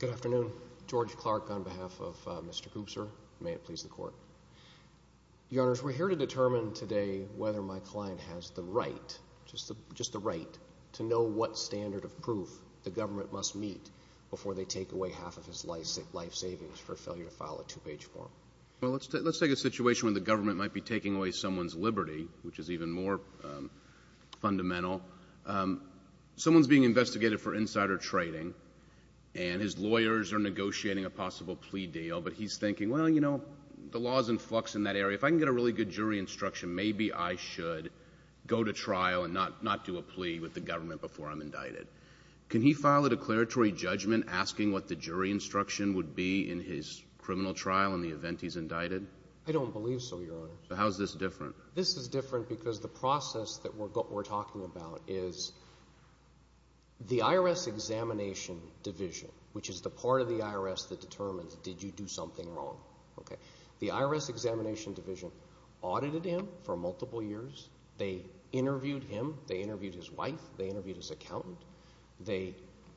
Good afternoon. George Clark on behalf of Mr. Gubser. May it please the Court. Your Honors, we're here to determine today whether my client has the right, just the right, to know what standard of proof the government must meet before they take away half of his life savings for failure to file a two-page form. Well, let's take a situation when the government might be taking away someone's liberty, which is even more fundamental. Someone's being investigated for insider trading, and his lawyers are negotiating a possible plea deal. But he's thinking, well, you know, the law is in flux in that area. If I can get a really good jury instruction, maybe I should go to trial and not do a plea with the government before I'm indicted. Can he file a declaratory judgment asking what the jury instruction would be in his criminal trial in the event he's indicted? I don't believe so, Your Honors. How is this different? This is different because the process that we're talking about is the IRS Examination Division, which is the part of the IRS that determines did you do something wrong. The IRS Examination Division audited him for multiple years. They interviewed him. They interviewed his wife. They interviewed his accountant. They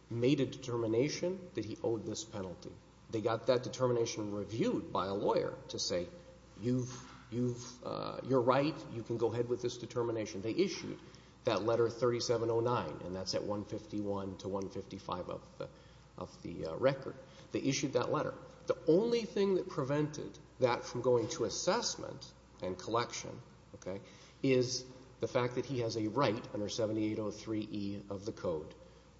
made a determination that he owed this penalty. They got that determination reviewed by a lawyer to say, you've, you've, you're right, you can go ahead with this determination. They issued that letter 3709, and that's at 151 to 155 of the record. They issued that letter. The only thing that prevented that from going to assessment and collection, okay, is the fact that he has a right under 7803e of the Code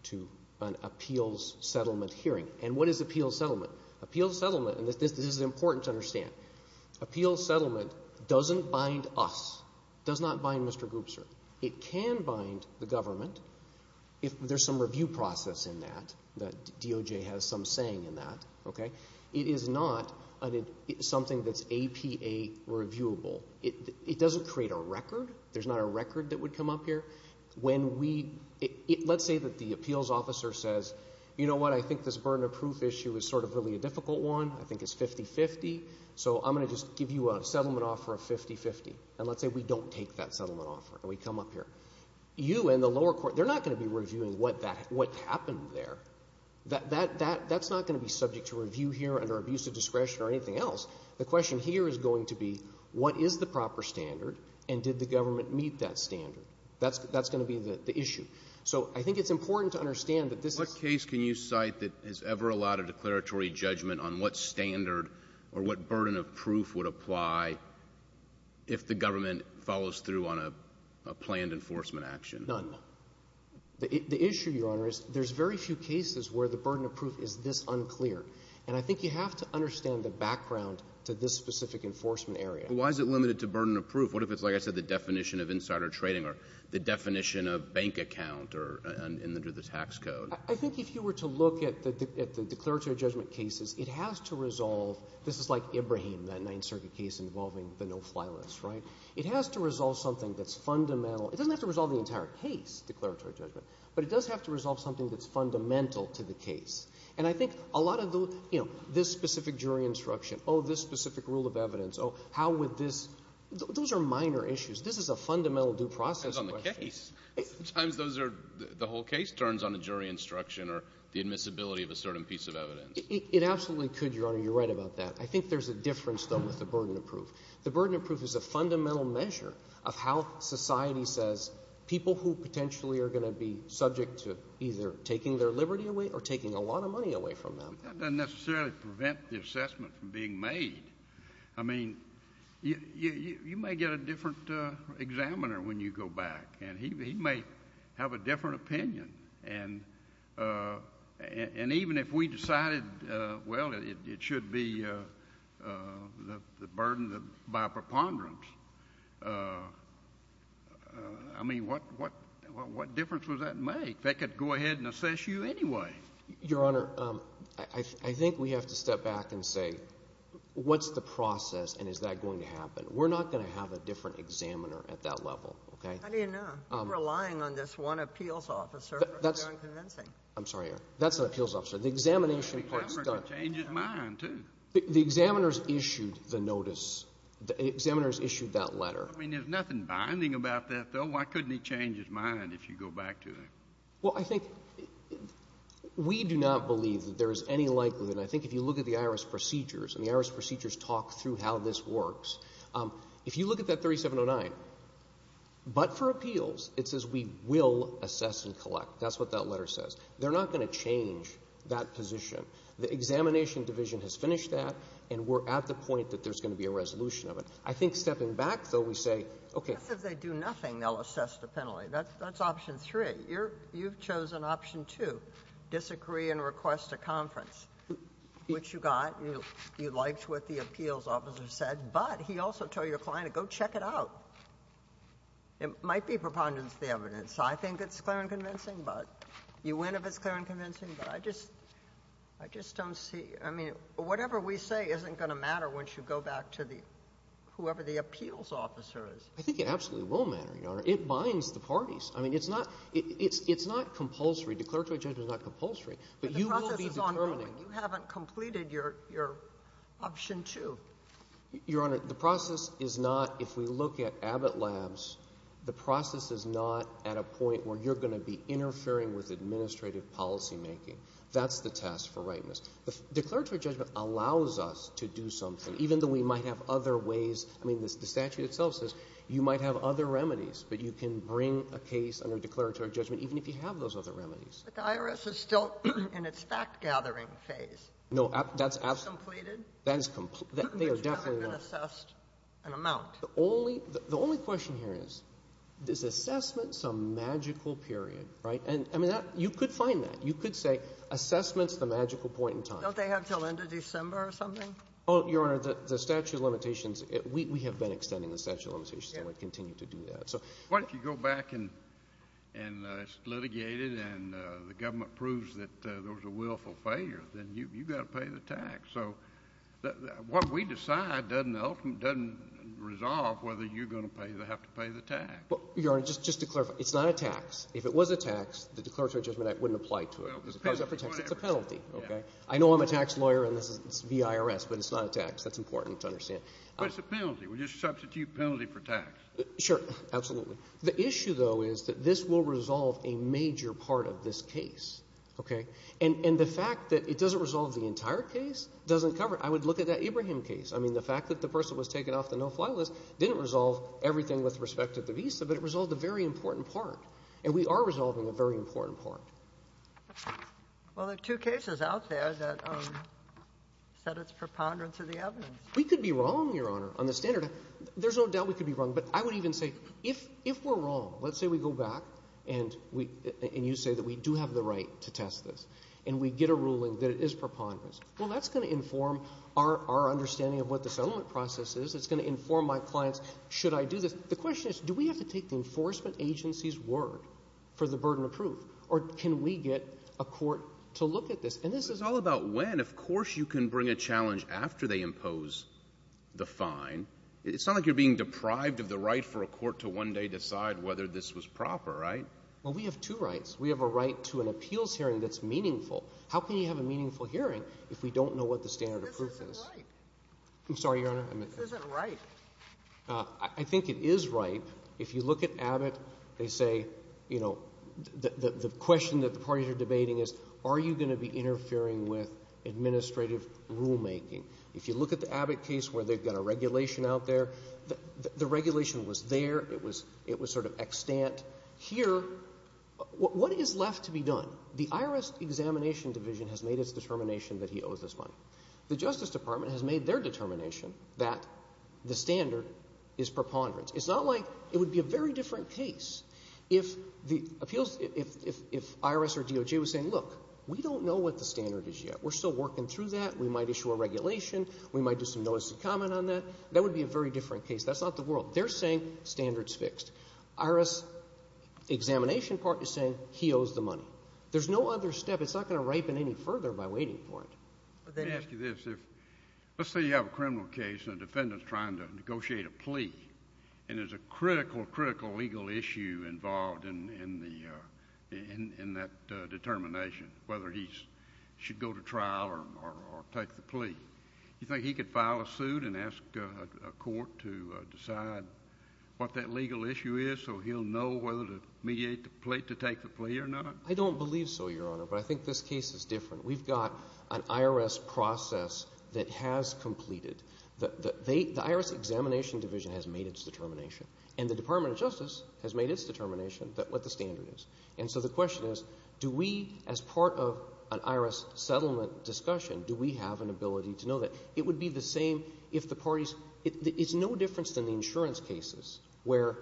to an appeals settlement hearing. And what is appeals settlement? Appeals settlement, and this is important to understand, appeals settlement doesn't bind us. It does not bind Mr. Goopser. It can bind the government if there's some review process in that, that DOJ has some saying in that, okay? It is not something that's APA reviewable. It doesn't create a record. There's not a record that would come up here. When we, let's say that the appeals officer says, you know what, I think this burden of proof issue is sort of really a difficult one. I think it's 50-50, so I'm going to just give you a settlement offer of 50-50. And let's say we don't take that settlement offer and we come up here. You and the lower court, they're not going to be reviewing what happened there. That's not going to be subject to review here under abusive discretion or anything else. The question here is going to be, what is the proper standard and did the government meet that standard? That's going to be the issue. So I think it's important to understand that this is — What case can you cite that has ever allowed a declaratory judgment on what standard or what burden of proof would apply if the government follows through on a planned enforcement action? None. The issue, Your Honor, is there's very few cases where the burden of proof is this unclear. And I think you have to understand the background to this specific enforcement area. Why is it limited to burden of proof? What if it's, like I said, the definition of insider trading or the definition of bank account or under the tax code? I think if you were to look at the declaratory judgment cases, it has to resolve — this is like Ibrahim, that Ninth Circuit case involving the no-fly list, right? It has to resolve something that's fundamental. It doesn't have to resolve the entire case, declaratory judgment, but it does have to resolve something that's fundamental to the case. And I think a lot of those — you know, this specific jury instruction, oh, this are minor issues. This is a fundamental due process question. It depends on the case. Sometimes those are — the whole case turns on a jury instruction or the admissibility of a certain piece of evidence. It absolutely could, Your Honor. You're right about that. I think there's a difference, though, with the burden of proof. The burden of proof is a fundamental measure of how society says people who potentially are going to be subject to either taking their liberty away or taking a lot of money away from them. That doesn't necessarily prevent the assessment from being made. I mean, you may get a different examiner when you go back, and he may have a different opinion. And even if we decided, well, it should be the burden by preponderance, I mean, what difference would that make? They could go ahead and assess you anyway. Your Honor, I think we have to step back and say, what's the process, and is that going to happen? We're not going to have a different examiner at that level, okay? How do you know? You're relying on this one appeals officer for your own convincing. I'm sorry, Your Honor. That's an appeals officer. The examination part's done. The examiner could change his mind, too. The examiner's issued the notice. The examiner's issued that letter. I mean, there's nothing binding about that, though. Why couldn't he change his mind if you go back to it? Well, I think we do not believe that there is any likelihood, and I think if you look at the IRS procedures, and the IRS procedures talk through how this works, if you look at that 3709, but for appeals, it says we will assess and collect. That's what that letter says. They're not going to change that position. The examination division has finished that, and we're at the point that there's going to be a resolution of it. I think stepping back, though, we say, okay. If they do nothing, they'll assess the penalty. That's option three. You've chosen option two, disagree and request a conference, which you got. You liked what the appeals officer said. But he also told your client to go check it out. It might be preponderance of the evidence. I think it's clear and convincing, but you win if it's clear and convincing. But I just don't see you. I mean, whatever we say isn't going to matter once you go back to the whoever the appeals officer is. I think it absolutely will matter, Your Honor. It binds the parties. I mean, it's not – it's not compulsory. Declaratory judgment is not compulsory. But you will be determining. But the process is ongoing. You haven't completed your option two. Your Honor, the process is not – if we look at Abbott Labs, the process is not at a point where you're going to be interfering with administrative policymaking. That's the test for rightness. Declaratory judgment allows us to do something, even though we might have other ways – I mean, the statute itself says you might have other remedies, but you can bring a case under declaratory judgment, even if you have those other remedies. But the IRS is still in its fact-gathering phase. No. That's absolutely – It's completed. That is – they are definitely not – But you haven't been assessed an amount. The only – the only question here is, is assessment some magical period, right? And, I mean, that – you could find that. You could say assessment's the magical point in time. Don't they have until end of December or something? Your Honor, the statute of limitations – we have been extending the statute of limitations and we continue to do that. What if you go back and it's litigated and the government proves that there was a willful failure? Then you've got to pay the tax. So what we decide doesn't ultimately – doesn't resolve whether you're going to pay – have to pay the tax. Your Honor, just to clarify, it's not a tax. If it was a tax, the declaratory judgment wouldn't apply to it. Well, it's a penalty. It's a penalty, okay? I know I'm a tax lawyer and this is – it's the IRS, but it's not a tax. That's important to understand. But it's a penalty. We just substitute penalty for tax. Sure, absolutely. The issue, though, is that this will resolve a major part of this case, okay? And the fact that it doesn't resolve the entire case doesn't cover it. I would look at that Ibrahim case. I mean, the fact that the person was taken off the no-fly list didn't resolve everything with respect to the visa, but it resolved a very important part, and we are resolving a very important part. Well, there are two cases out there that said it's preponderance of the evidence. We could be wrong, Your Honor, on the standard. There's no doubt we could be wrong, but I would even say if we're wrong, let's say we go back and we – and you say that we do have the right to test this, and we get a ruling that it is preponderance. Well, that's going to inform our understanding of what the settlement process is. It's going to inform my clients, should I do this? The question is, do we have to take the enforcement agency's word for the burden of proof, or can we get a court to look at this? And this is all about when. Of course you can bring a challenge after they impose the fine. It's not like you're being deprived of the right for a court to one day decide whether this was proper, right? Well, we have two rights. We have a right to an appeals hearing that's meaningful. How can you have a meaningful hearing if we don't know what the standard of proof is? This isn't right. I'm sorry, Your Honor. This isn't right. I think it is right. If you look at Abbott, they say, you know, the question that the parties are debating is, are you going to be interfering with administrative rulemaking? If you look at the Abbott case where they've got a regulation out there, the regulation was there. It was sort of extant. Here, what is left to be done? The IRS Examination Division has made its determination that he owes this money. The Justice Department has made their determination that the standard is preponderance. It's not like it would be a very different case if the appeals — if IRS or DOJ was saying, look, we don't know what the standard is yet. We're still working through that. We might issue a regulation. We might do some notice and comment on that. That would be a very different case. That's not the world. They're saying standard's fixed. IRS Examination Department is saying he owes the money. There's no other step. It's not going to ripen any further by waiting for it. Let me ask you this. Let's say you have a criminal case and a defendant's trying to negotiate a plea, and there's a critical, critical legal issue involved in that determination, whether he should go to trial or take the plea. Do you think he could file a suit and ask a court to decide what that legal issue is so he'll know whether to mediate the plea, to take the plea or not? I don't believe so, Your Honor, but I think this case is different. We've got an IRS process that has completed. The IRS Examination Division has made its determination, and the Department of Justice has made its determination what the standard is. And so the question is, do we, as part of an IRS settlement discussion, do we have an ability to know that? It would be the same if the parties – it's no difference than the insurance cases where,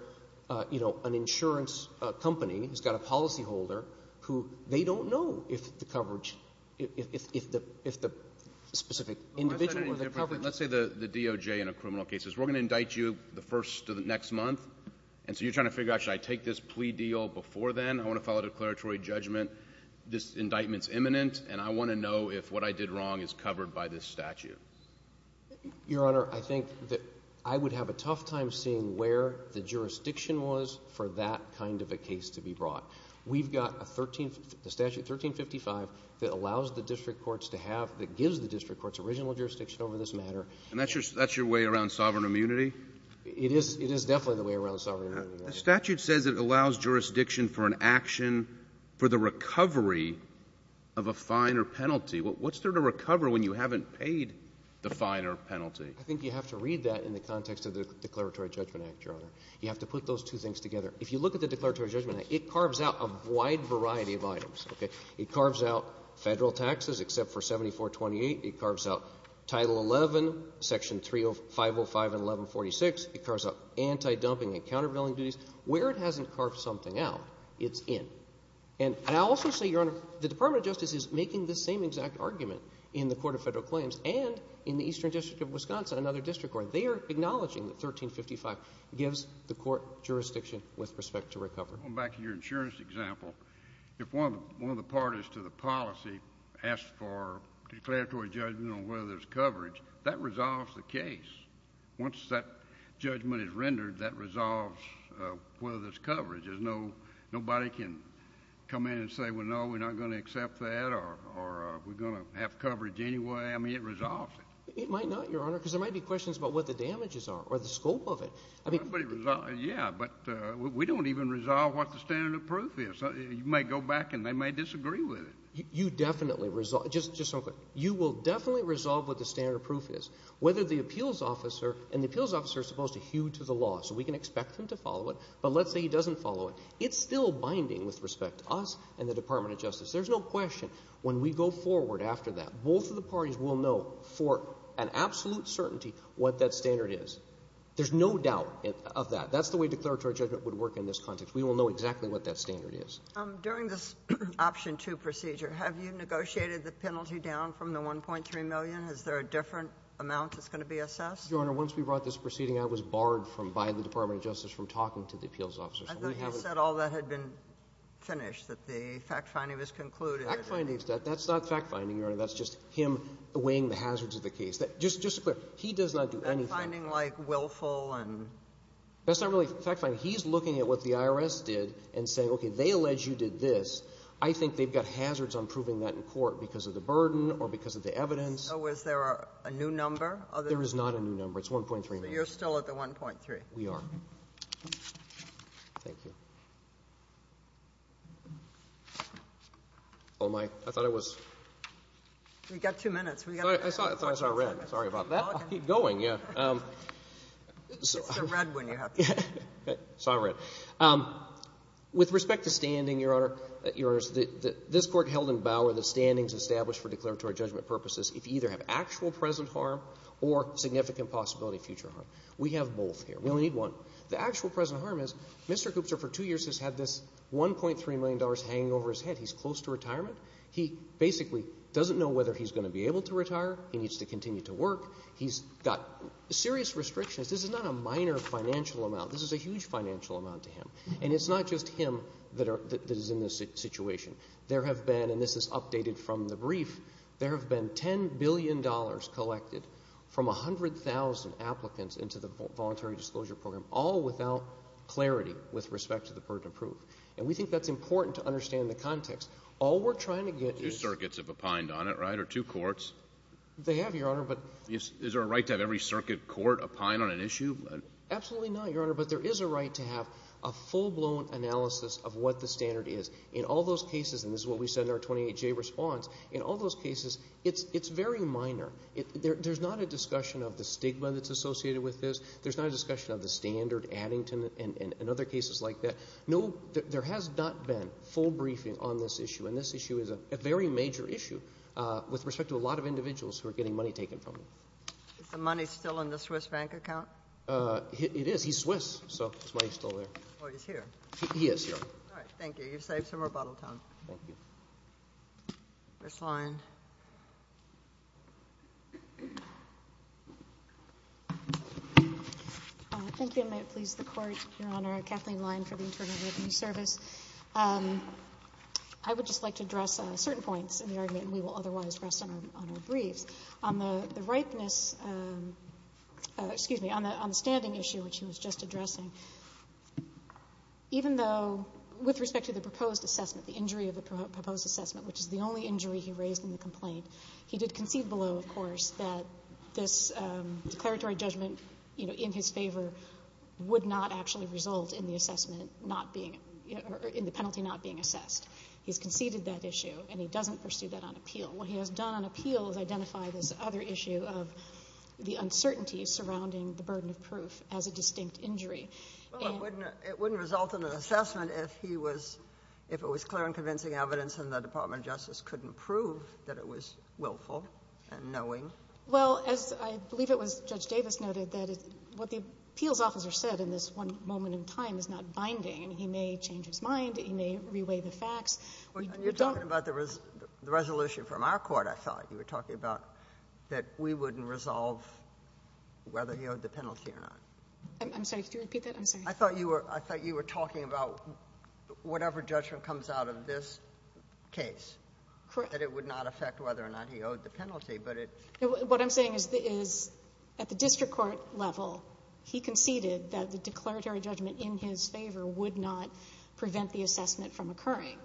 you know, an insurance company has got a policyholder who they don't know if the coverage – if the specific individual or the coverage – Let's say the DOJ in a criminal case. We're going to indict you the first of the next month, and so you're trying to figure out, should I take this plea deal before then? I want to file a declaratory judgment. This indictment's imminent, and I want to know if what I did wrong is covered by this statute. Your Honor, I think that I would have a tough time seeing where the jurisdiction was for that kind of a case to be brought. We've got a 13 – the statute, 1355, that allows the district courts to have – that gives the district courts original jurisdiction over this matter. And that's your – that's your way around sovereign immunity? It is – it is definitely the way around sovereign immunity, Your Honor. The statute says it allows jurisdiction for an action for the recovery of a fine or penalty. What's there to recover when you haven't paid the fine or penalty? I think you have to read that in the context of the Declaratory Judgment Act, Your You have to put those two things together. If you look at the Declaratory Judgment Act, it carves out a wide variety of items, okay? It carves out Federal taxes except for 7428. It carves out Title XI, Section 30505 and 1146. It carves out anti-dumping and countervailing duties. Where it hasn't carved something out, it's in. And I'll also say, Your Honor, the Department of Justice is making the same exact argument in the Court of Federal Claims and in the Eastern District of Wisconsin, another district court. They are acknowledging that 1355 gives the court jurisdiction with respect to recovery. Going back to your insurance example, if one of the parties to the policy asks for declaratory judgment on whether there's coverage, that resolves the case. Once that judgment is rendered, that resolves whether there's coverage. There's no – nobody can come in and say, well, no, we're not going to accept that or we're going to have coverage anyway. I mean, it resolves it. It might not, Your Honor, because there might be questions about what the damages are or the scope of it. I mean – Yeah, but we don't even resolve what the standard of proof is. You may go back and they may disagree with it. You definitely – just one quick – you will definitely resolve what the standard of proof is, whether the appeals officer – and the appeals officer is supposed to hew to the law, so we can expect him to follow it, but let's say he doesn't follow it. It's still binding with respect to us and the Department of Justice. There's no question when we go forward after that, both of the parties will know for an absolute certainty what that standard is. There's no doubt of that. That's the way declaratory judgment would work in this context. We will know exactly what that standard is. During this Option 2 procedure, have you negotiated the penalty down from the $1.3 million? Is there a different amount that's going to be assessed? Your Honor, once we brought this proceeding out, it was barred from – by the Department of Justice from talking to the appeals officers. I thought you said all that had been finished, that the fact-finding was concluded. Fact-finding is that. That's not fact-finding, Your Honor. That's just him weighing the hazards of the case. Just to be clear, he does not do anything. And finding, like, willful and – That's not really fact-finding. He's looking at what the IRS did and saying, okay, they allege you did this. I think they've got hazards on proving that in court because of the burden or because of the evidence. So is there a new number? There is not a new number. It's $1.3 million. You're still at the $1.3. We are. Thank you. Oh, my. I thought I was – You've got two minutes. I thought I saw red. Sorry about that. I'll keep going, yeah. It's the red one you have. Sorry. With respect to standing, Your Honor, Your Honor, this Court held in Bauer that standings established for declaratory judgment purposes if you either have actual present harm or significant possibility of future harm. We have both here. We only need one. The actual present harm is Mr. Koopzer for two years has had this $1.3 million hanging over his head. He's close to retirement. He basically doesn't know whether he's going to be able to retire. He needs to continue to work. He's got serious restrictions. This is not a minor financial amount. This is a huge financial amount to him. And it's not just him that are – that is in this situation. There have been – and this is updated from the brief – there have been $10 billion collected from 100,000 applicants into the Voluntary Disclosure Program, all without clarity with respect to the burden of proof. And we think that's important to understand the context. All we're trying to get is – Two circuits have opined on it, right, or two courts? They have, Your Honor, but – Is there a right to have every circuit court opine on an issue? Absolutely not, Your Honor, but there is a right to have a full-blown analysis of what the standard is. In all those cases – and this is what we said in our 28J response – in all those cases, it's very minor. There's not a discussion of the stigma that's associated with this. There's not a discussion of the standard adding to it and other cases like that. No, there has not been full briefing on this issue, and this issue is a very major issue with respect to a lot of individuals who are getting money taken from them. Is the money still in the Swiss bank account? It is. He's Swiss, so his money is still there. Oh, he's here. He is here. All right. Thank you. You've saved some rebuttal time. Thank you. Ms. Lyon. Thank you, and may it please the Court, Your Honor. Kathleen Lyon for the Internal Revenue Service. I would just like to address certain points in the argument, and we will otherwise rest on our briefs. On the ripeness – excuse me – on the standing issue, which she was just addressing, even though with respect to the proposed assessment, the injury of the proposed assessment, which is the only injury he raised in the complaint, he did concede below, of course, that this declaratory judgment in his favor would not actually result in the assessment not being – or in the penalty not being assessed. He's conceded that issue, and he doesn't pursue that on appeal. What he has done on appeal is identify this other issue of the uncertainty surrounding the burden of proof as a distinct injury. Well, it wouldn't result in an assessment if he was – if it was clear and convincing evidence and the Department of Justice couldn't prove that it was willful and knowing. Well, as I believe it was Judge Davis noted, what the appeals officer said in this one moment in time is not binding. He may change his mind. He may reweigh the facts. You're talking about the resolution from our court, I thought. You were talking about that we wouldn't resolve whether he owed the penalty or not. I'm sorry. Could you repeat that? I'm sorry. I thought you were talking about whatever judgment comes out of this case. Correct. That it would not affect whether or not he owed the penalty, but it – What I'm saying is at the district court level, he conceded that the declaratory judgment in his favor would not prevent the assessment from occurring.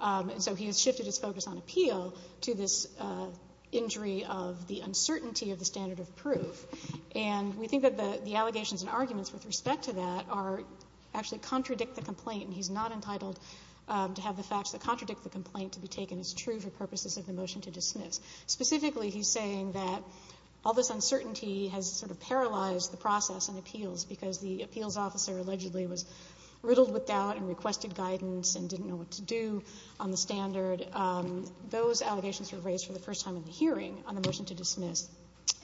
And so he has shifted his focus on appeal to this injury of the uncertainty of the standard of proof. And we think that the allegations and arguments with respect to that are actually contradict the complaint, and he's not entitled to have the facts that contradict the complaint to be taken as true for purposes of the motion to dismiss. Specifically, he's saying that all this uncertainty has sort of paralyzed the process in appeals because the appeals officer allegedly was riddled with doubt and requested guidance and didn't know what to do on the standard. Those allegations were raised for the first time in the hearing on the motion to dismiss.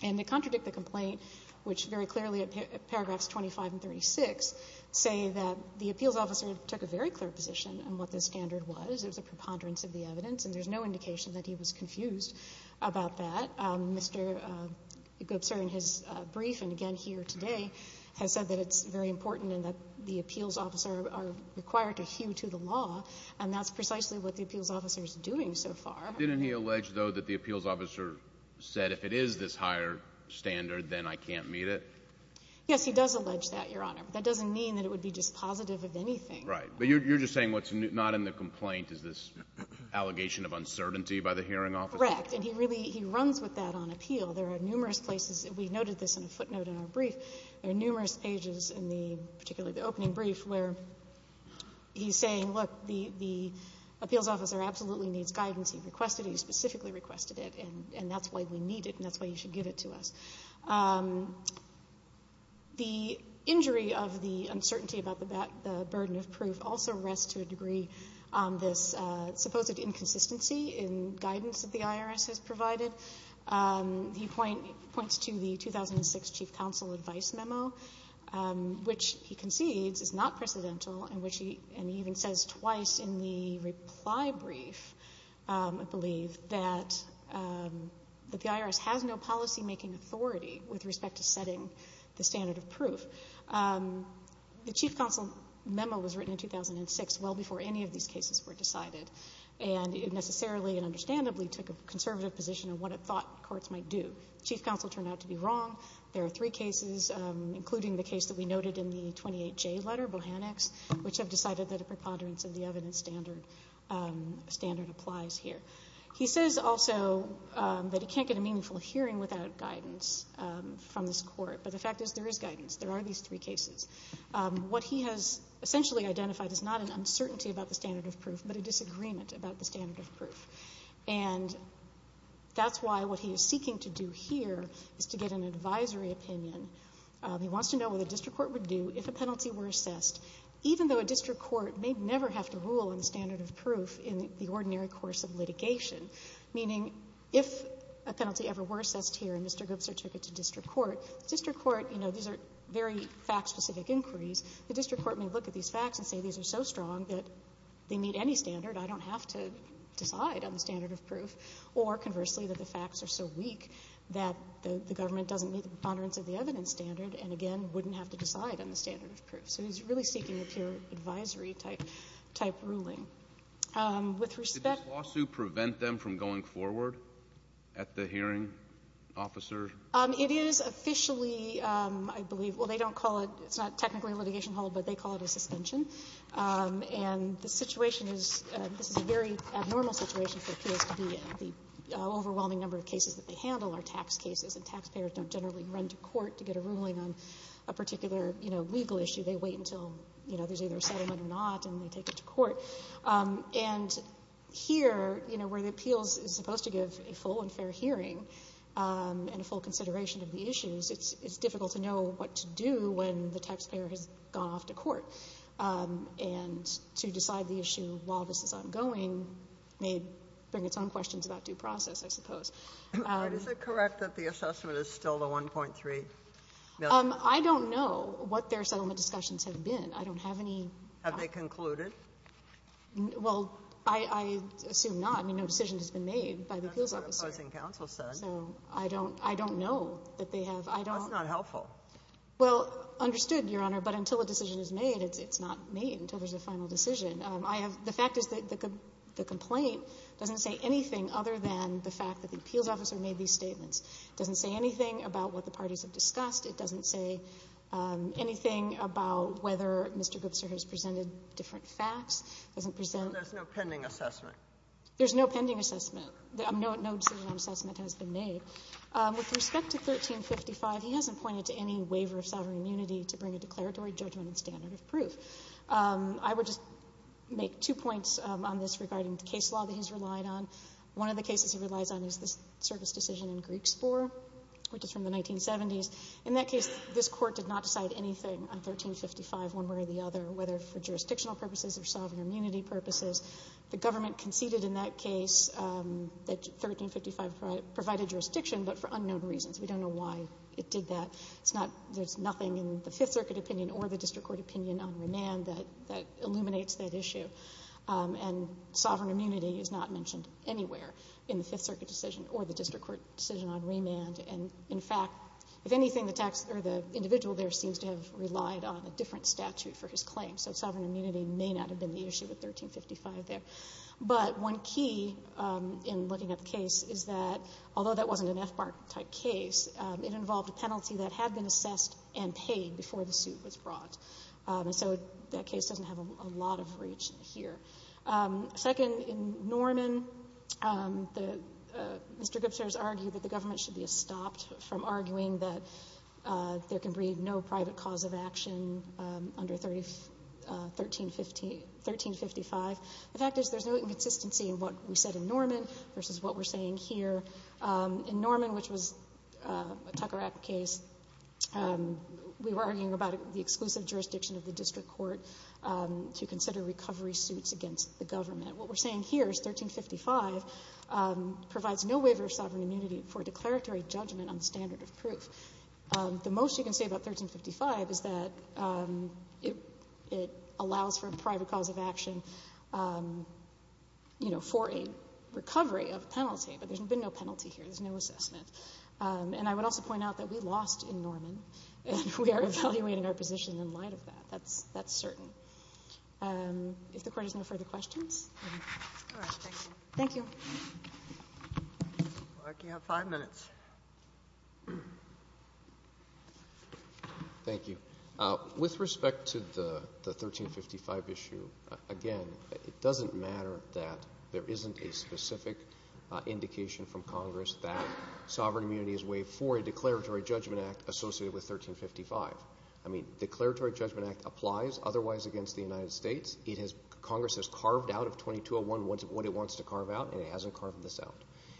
And they contradict the complaint, which very clearly at paragraphs 25 and 36 say that the appeals officer took a very clear position on what the standard was. It was a preponderance of the evidence. And there's no indication that he was confused about that. Mr. Goebsel in his brief and again here today has said that it's very important and that the appeals officer are required to hew to the law, and that's precisely what the appeals officer is doing so far. Didn't he allege, though, that the appeals officer said, if it is this higher standard, then I can't meet it? Yes, he does allege that, Your Honor. That doesn't mean that it would be dispositive of anything. Right. But you're just saying what's not in the complaint is this allegation of uncertainty by the hearing officer? Correct. And he really runs with that on appeal. There are numerous places. We noted this in a footnote in our brief. There are numerous pages in the opening brief where he's saying, look, the appeals officer absolutely needs guidance. He requested it. He specifically requested it. And that's why we need it, and that's why you should give it to us. The injury of the uncertainty about the burden of proof also rests to a degree on this supposed inconsistency in guidance that the IRS has provided. He points to the 2006 chief counsel advice memo, which he concedes is not precedental and he even says twice in the reply brief, I believe, that the IRS has no policymaking authority with respect to setting the standard of proof. The chief counsel memo was written in 2006, well before any of these cases were decided. And it necessarily and understandably took a conservative position of what it thought courts might do. The chief counsel turned out to be wrong. There are three cases, including the case that we noted in the 28J letter, Bohannics, which have decided that a preponderance of the evidence standard applies here. He says also that he can't get a meaningful hearing without guidance from this Court, but the fact is there is guidance. There are these three cases. What he has essentially identified is not an uncertainty about the standard of proof, but a disagreement about the standard of proof. And that's why what he is seeking to do here is to get an advisory opinion. He wants to know what a district court would do if a penalty were assessed, even though a district court may never have to rule on the standard of proof in the ordinary course of litigation, meaning if a penalty ever were assessed here and Mr. Goobzer took it to district court, district court, you know, these are very fact-specific inquiries. The district court may look at these facts and say these are so strong that they meet any standard, I don't have to decide on the standard of proof, or conversely, that the facts are so weak that the government doesn't meet the preponderance of the evidence standard and, again, wouldn't have to decide on the standard of proof. So he's really seeking a pure advisory-type ruling. With respect to the lawsuit prevent them from going forward at the hearing, officer? It is officially, I believe, well, they don't call it, it's not technically a litigation hall, but they call it a suspension. And the situation is, this is a very abnormal situation for appeals to be in. The overwhelming number of cases that they handle are tax cases, and taxpayers don't generally run to court to get a ruling on a particular, you know, legal issue. They wait until, you know, there's either a settlement or not and they take it to court. And here, you know, where the appeals is supposed to give a full and fair hearing and a full consideration of the issues, it's difficult to know what to do when the taxpayer has gone off to court. And to decide the issue while this is ongoing may bring its own questions about due process, I suppose. But is it correct that the assessment is still the 1.3? I don't know what their settlement discussions have been. I don't have any. Have they concluded? Well, I assume not. I mean, no decision has been made by the appeals officer. That's what opposing counsel said. So I don't know that they have. I don't. That's not helpful. Well, understood, Your Honor. But until a decision is made, it's not made until there's a final decision. I have the fact is that the complaint doesn't say anything other than the fact that the appeals officer made these statements. It doesn't say anything about what the parties have discussed. It doesn't say anything about whether Mr. Gipser has presented different facts. It doesn't present no pending assessment. There's no pending assessment. No decision on assessment has been made. With respect to 1355, he hasn't pointed to any waiver of sovereign immunity to bring a declaratory judgment and standard of proof. I would just make two points on this regarding the case law that he's relied on. One of the cases he relies on is this service decision in Greeks IV, which is from the 1970s. In that case, this court did not decide anything on 1355 one way or the other, whether for jurisdictional purposes or sovereign immunity purposes. The government conceded in that case that 1355 provided jurisdiction, but for unknown reasons. We don't know why it did that. It's not — there's nothing in the Fifth Circuit opinion or the district court opinion on remand that illuminates that issue. And sovereign immunity is not mentioned anywhere in the Fifth Circuit decision or the district court decision on remand. And, in fact, if anything, the tax — or the individual there seems to have relied on a different statute for his claim. So sovereign immunity may not have been the issue with 1355 there. But one key in looking at the case is that, although that wasn't an FBARC-type case, it involved a penalty that had been assessed and paid before the suit was brought. And so that case doesn't have a lot of reach here. Second, in Norman, the — Mr. Gibson has argued that the government should be stopped from arguing that there can be no private cause of action under 1355. The fact is there's no inconsistency in what we said in Norman versus what we're saying here. In Norman, which was a Tucker Act case, we were arguing about the exclusive jurisdiction of the district court to consider recovery suits against the government. What we're saying here is 1355 provides no waiver of sovereign immunity for declaratory judgment on the standard of proof. The most you can say about 1355 is that it allows for a private cause of action, you know, for a recovery of a penalty. But there's been no penalty here. There's no assessment. And I would also point out that we lost in Norman, and we are evaluating our position in light of that. That's — that's certain. If the Court has no further questions. Thank you. Thank you. You have five minutes. Thank you. With respect to the 1355 issue, again, it doesn't matter that there isn't a specific indication from Congress that sovereign immunity is waived for a declaratory judgment act associated with 1355. I mean, declaratory judgment act applies otherwise against the United States. It has — Congress has carved out of 2201 what it wants to carve out, and it hasn't carved this out.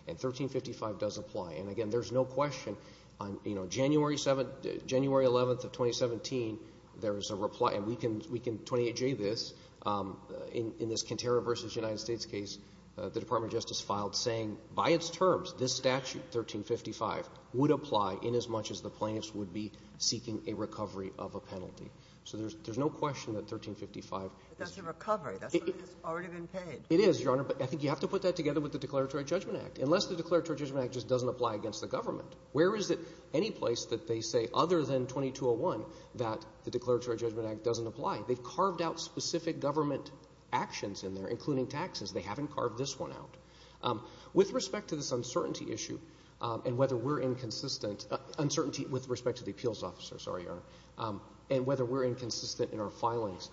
And 1355 does apply. And again, there's no question on, you know, January 7th — January 11th of 2017, there is a reply — and we can — we can 28J this. In this Kintera v. United States case, the Department of Justice filed saying by its terms, this statute, 1355, would apply inasmuch as the plaintiffs would be seeking a recovery of a penalty. So there's no question that 1355 is — But that's a recovery. That's already been paid. It is, Your Honor. But I think you have to put that together with the declaratory judgment act. Unless the declaratory judgment act just doesn't apply against the government, where is it any place that they say, other than 2201, that the declaratory judgment act doesn't apply? They've carved out specific government actions in there, including taxes. They haven't carved this one out. With respect to this uncertainty issue and whether we're inconsistent — uncertainty with respect to the appeals officer, sorry, Your Honor — and whether we're inconsistent in our filings,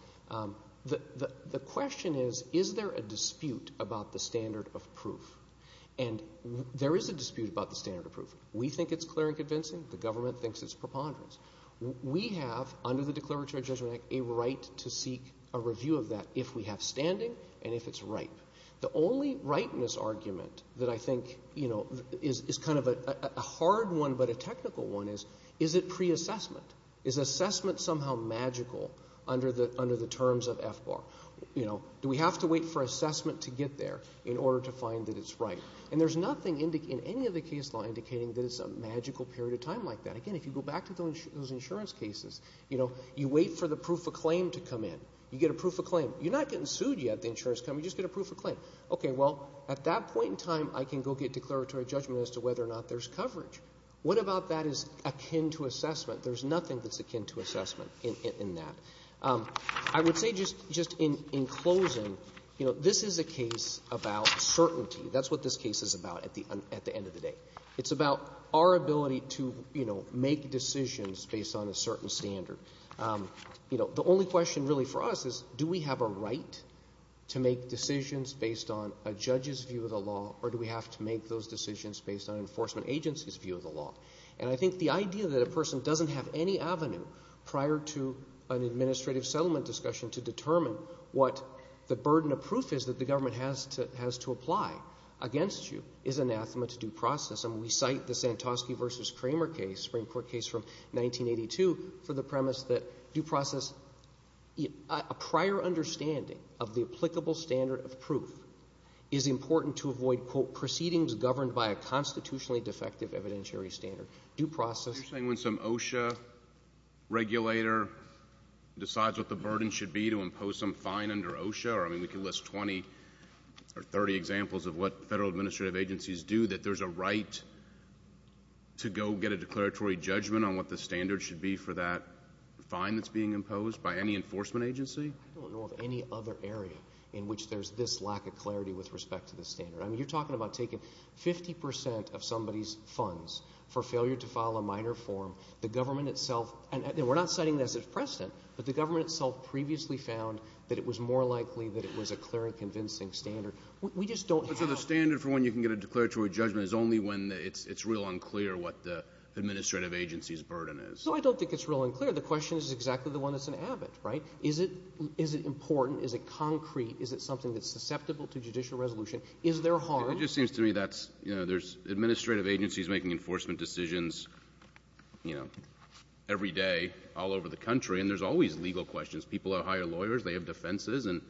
the question is, is there a dispute about the standard of proof? And there is a dispute about the standard of proof. We think it's clear and convincing. The government thinks it's preponderance. We have, under the declaratory judgment act, a right to seek a review of that if we have standing and if it's ripe. The only rightness argument that I think, you know, is kind of a hard one but a technical one is, is it pre-assessment? Is assessment somehow magical under the terms of FBAR? You know, do we have to wait for assessment to get there in order to find that it's ripe? And there's nothing in any of the case law indicating that it's a magical period of time like that. Again, if you go back to those insurance cases, you know, you wait for the proof of claim to come in. You get a proof of claim. You're not getting sued yet at the insurance company. You just get a proof of claim. Okay, well, at that point in time, I can go get declaratory judgment as to whether or not there's coverage. What about that is akin to assessment? There's nothing that's akin to assessment in that. I would say just in closing, you know, this is a case about certainty. That's what this case is about at the end of the day. It's about our ability to, you know, make decisions based on a certain standard. You know, the only question really for us is do we have a right to make decisions based on a judge's view of the law or do we have to make those decisions based on an enforcement agency's view of the law? And I think the idea that a person doesn't have any avenue prior to an administrative settlement discussion to determine what the burden of proof is that the government has to apply against you is anathema to due process. And we cite the Santosky v. Kramer case, Supreme Court case from 1982, for the premise that due process, a prior understanding of the applicable standard of proof is important to avoid, quote, proceedings governed by a constitutionally defective evidentiary standard. Due process — You're saying when some OSHA regulator decides what the burden should be to impose some fine under OSHA, or, I mean, we can list 20 or 30 examples of what Federal administrative agencies do, that there's a right to go get a declaratory judgment on what the standard should be for that fine that's being imposed by any enforcement agency? I don't know of any other area in which there's this lack of clarity with respect to the standard. I mean, you're talking about taking 50 percent of somebody's funds for failure to file a minor form. The government itself — and we're not citing this as precedent, but the government itself previously found that it was more likely that it was a clear and convincing standard. We just don't have — But so the standard for when you can get a declaratory judgment is only when it's real unclear what the administrative agency's burden is. No, I don't think it's real unclear. The question is exactly the one that's in Abbott, right? Is it — is it important? Is it concrete? Is it something that's susceptible to judicial resolution? Is there harm? It just seems to me that's — you know, there's administrative agencies making enforcement decisions, you know, every day all over the country, and there's always legal questions. People have hired lawyers. They have defenses. And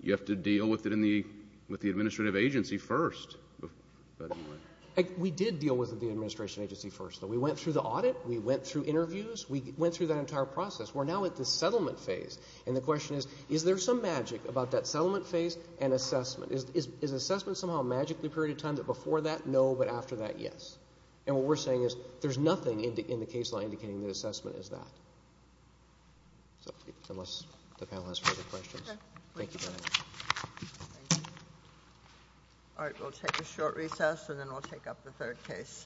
you have to deal with it in the — with the administrative agency first. We did deal with the administration agency first, though. We went through the audit. We went through interviews. We went through that entire process. We're now at the settlement phase. And the question is, is there some magic about that settlement phase and assessment? Is assessment somehow magically period of time that before that, no, but after that, yes? And what we're saying is there's nothing in the case law indicating that assessment is that. So unless the panel has further questions. Thank you very much. All right. We'll take a short recess, and then we'll take up the third case.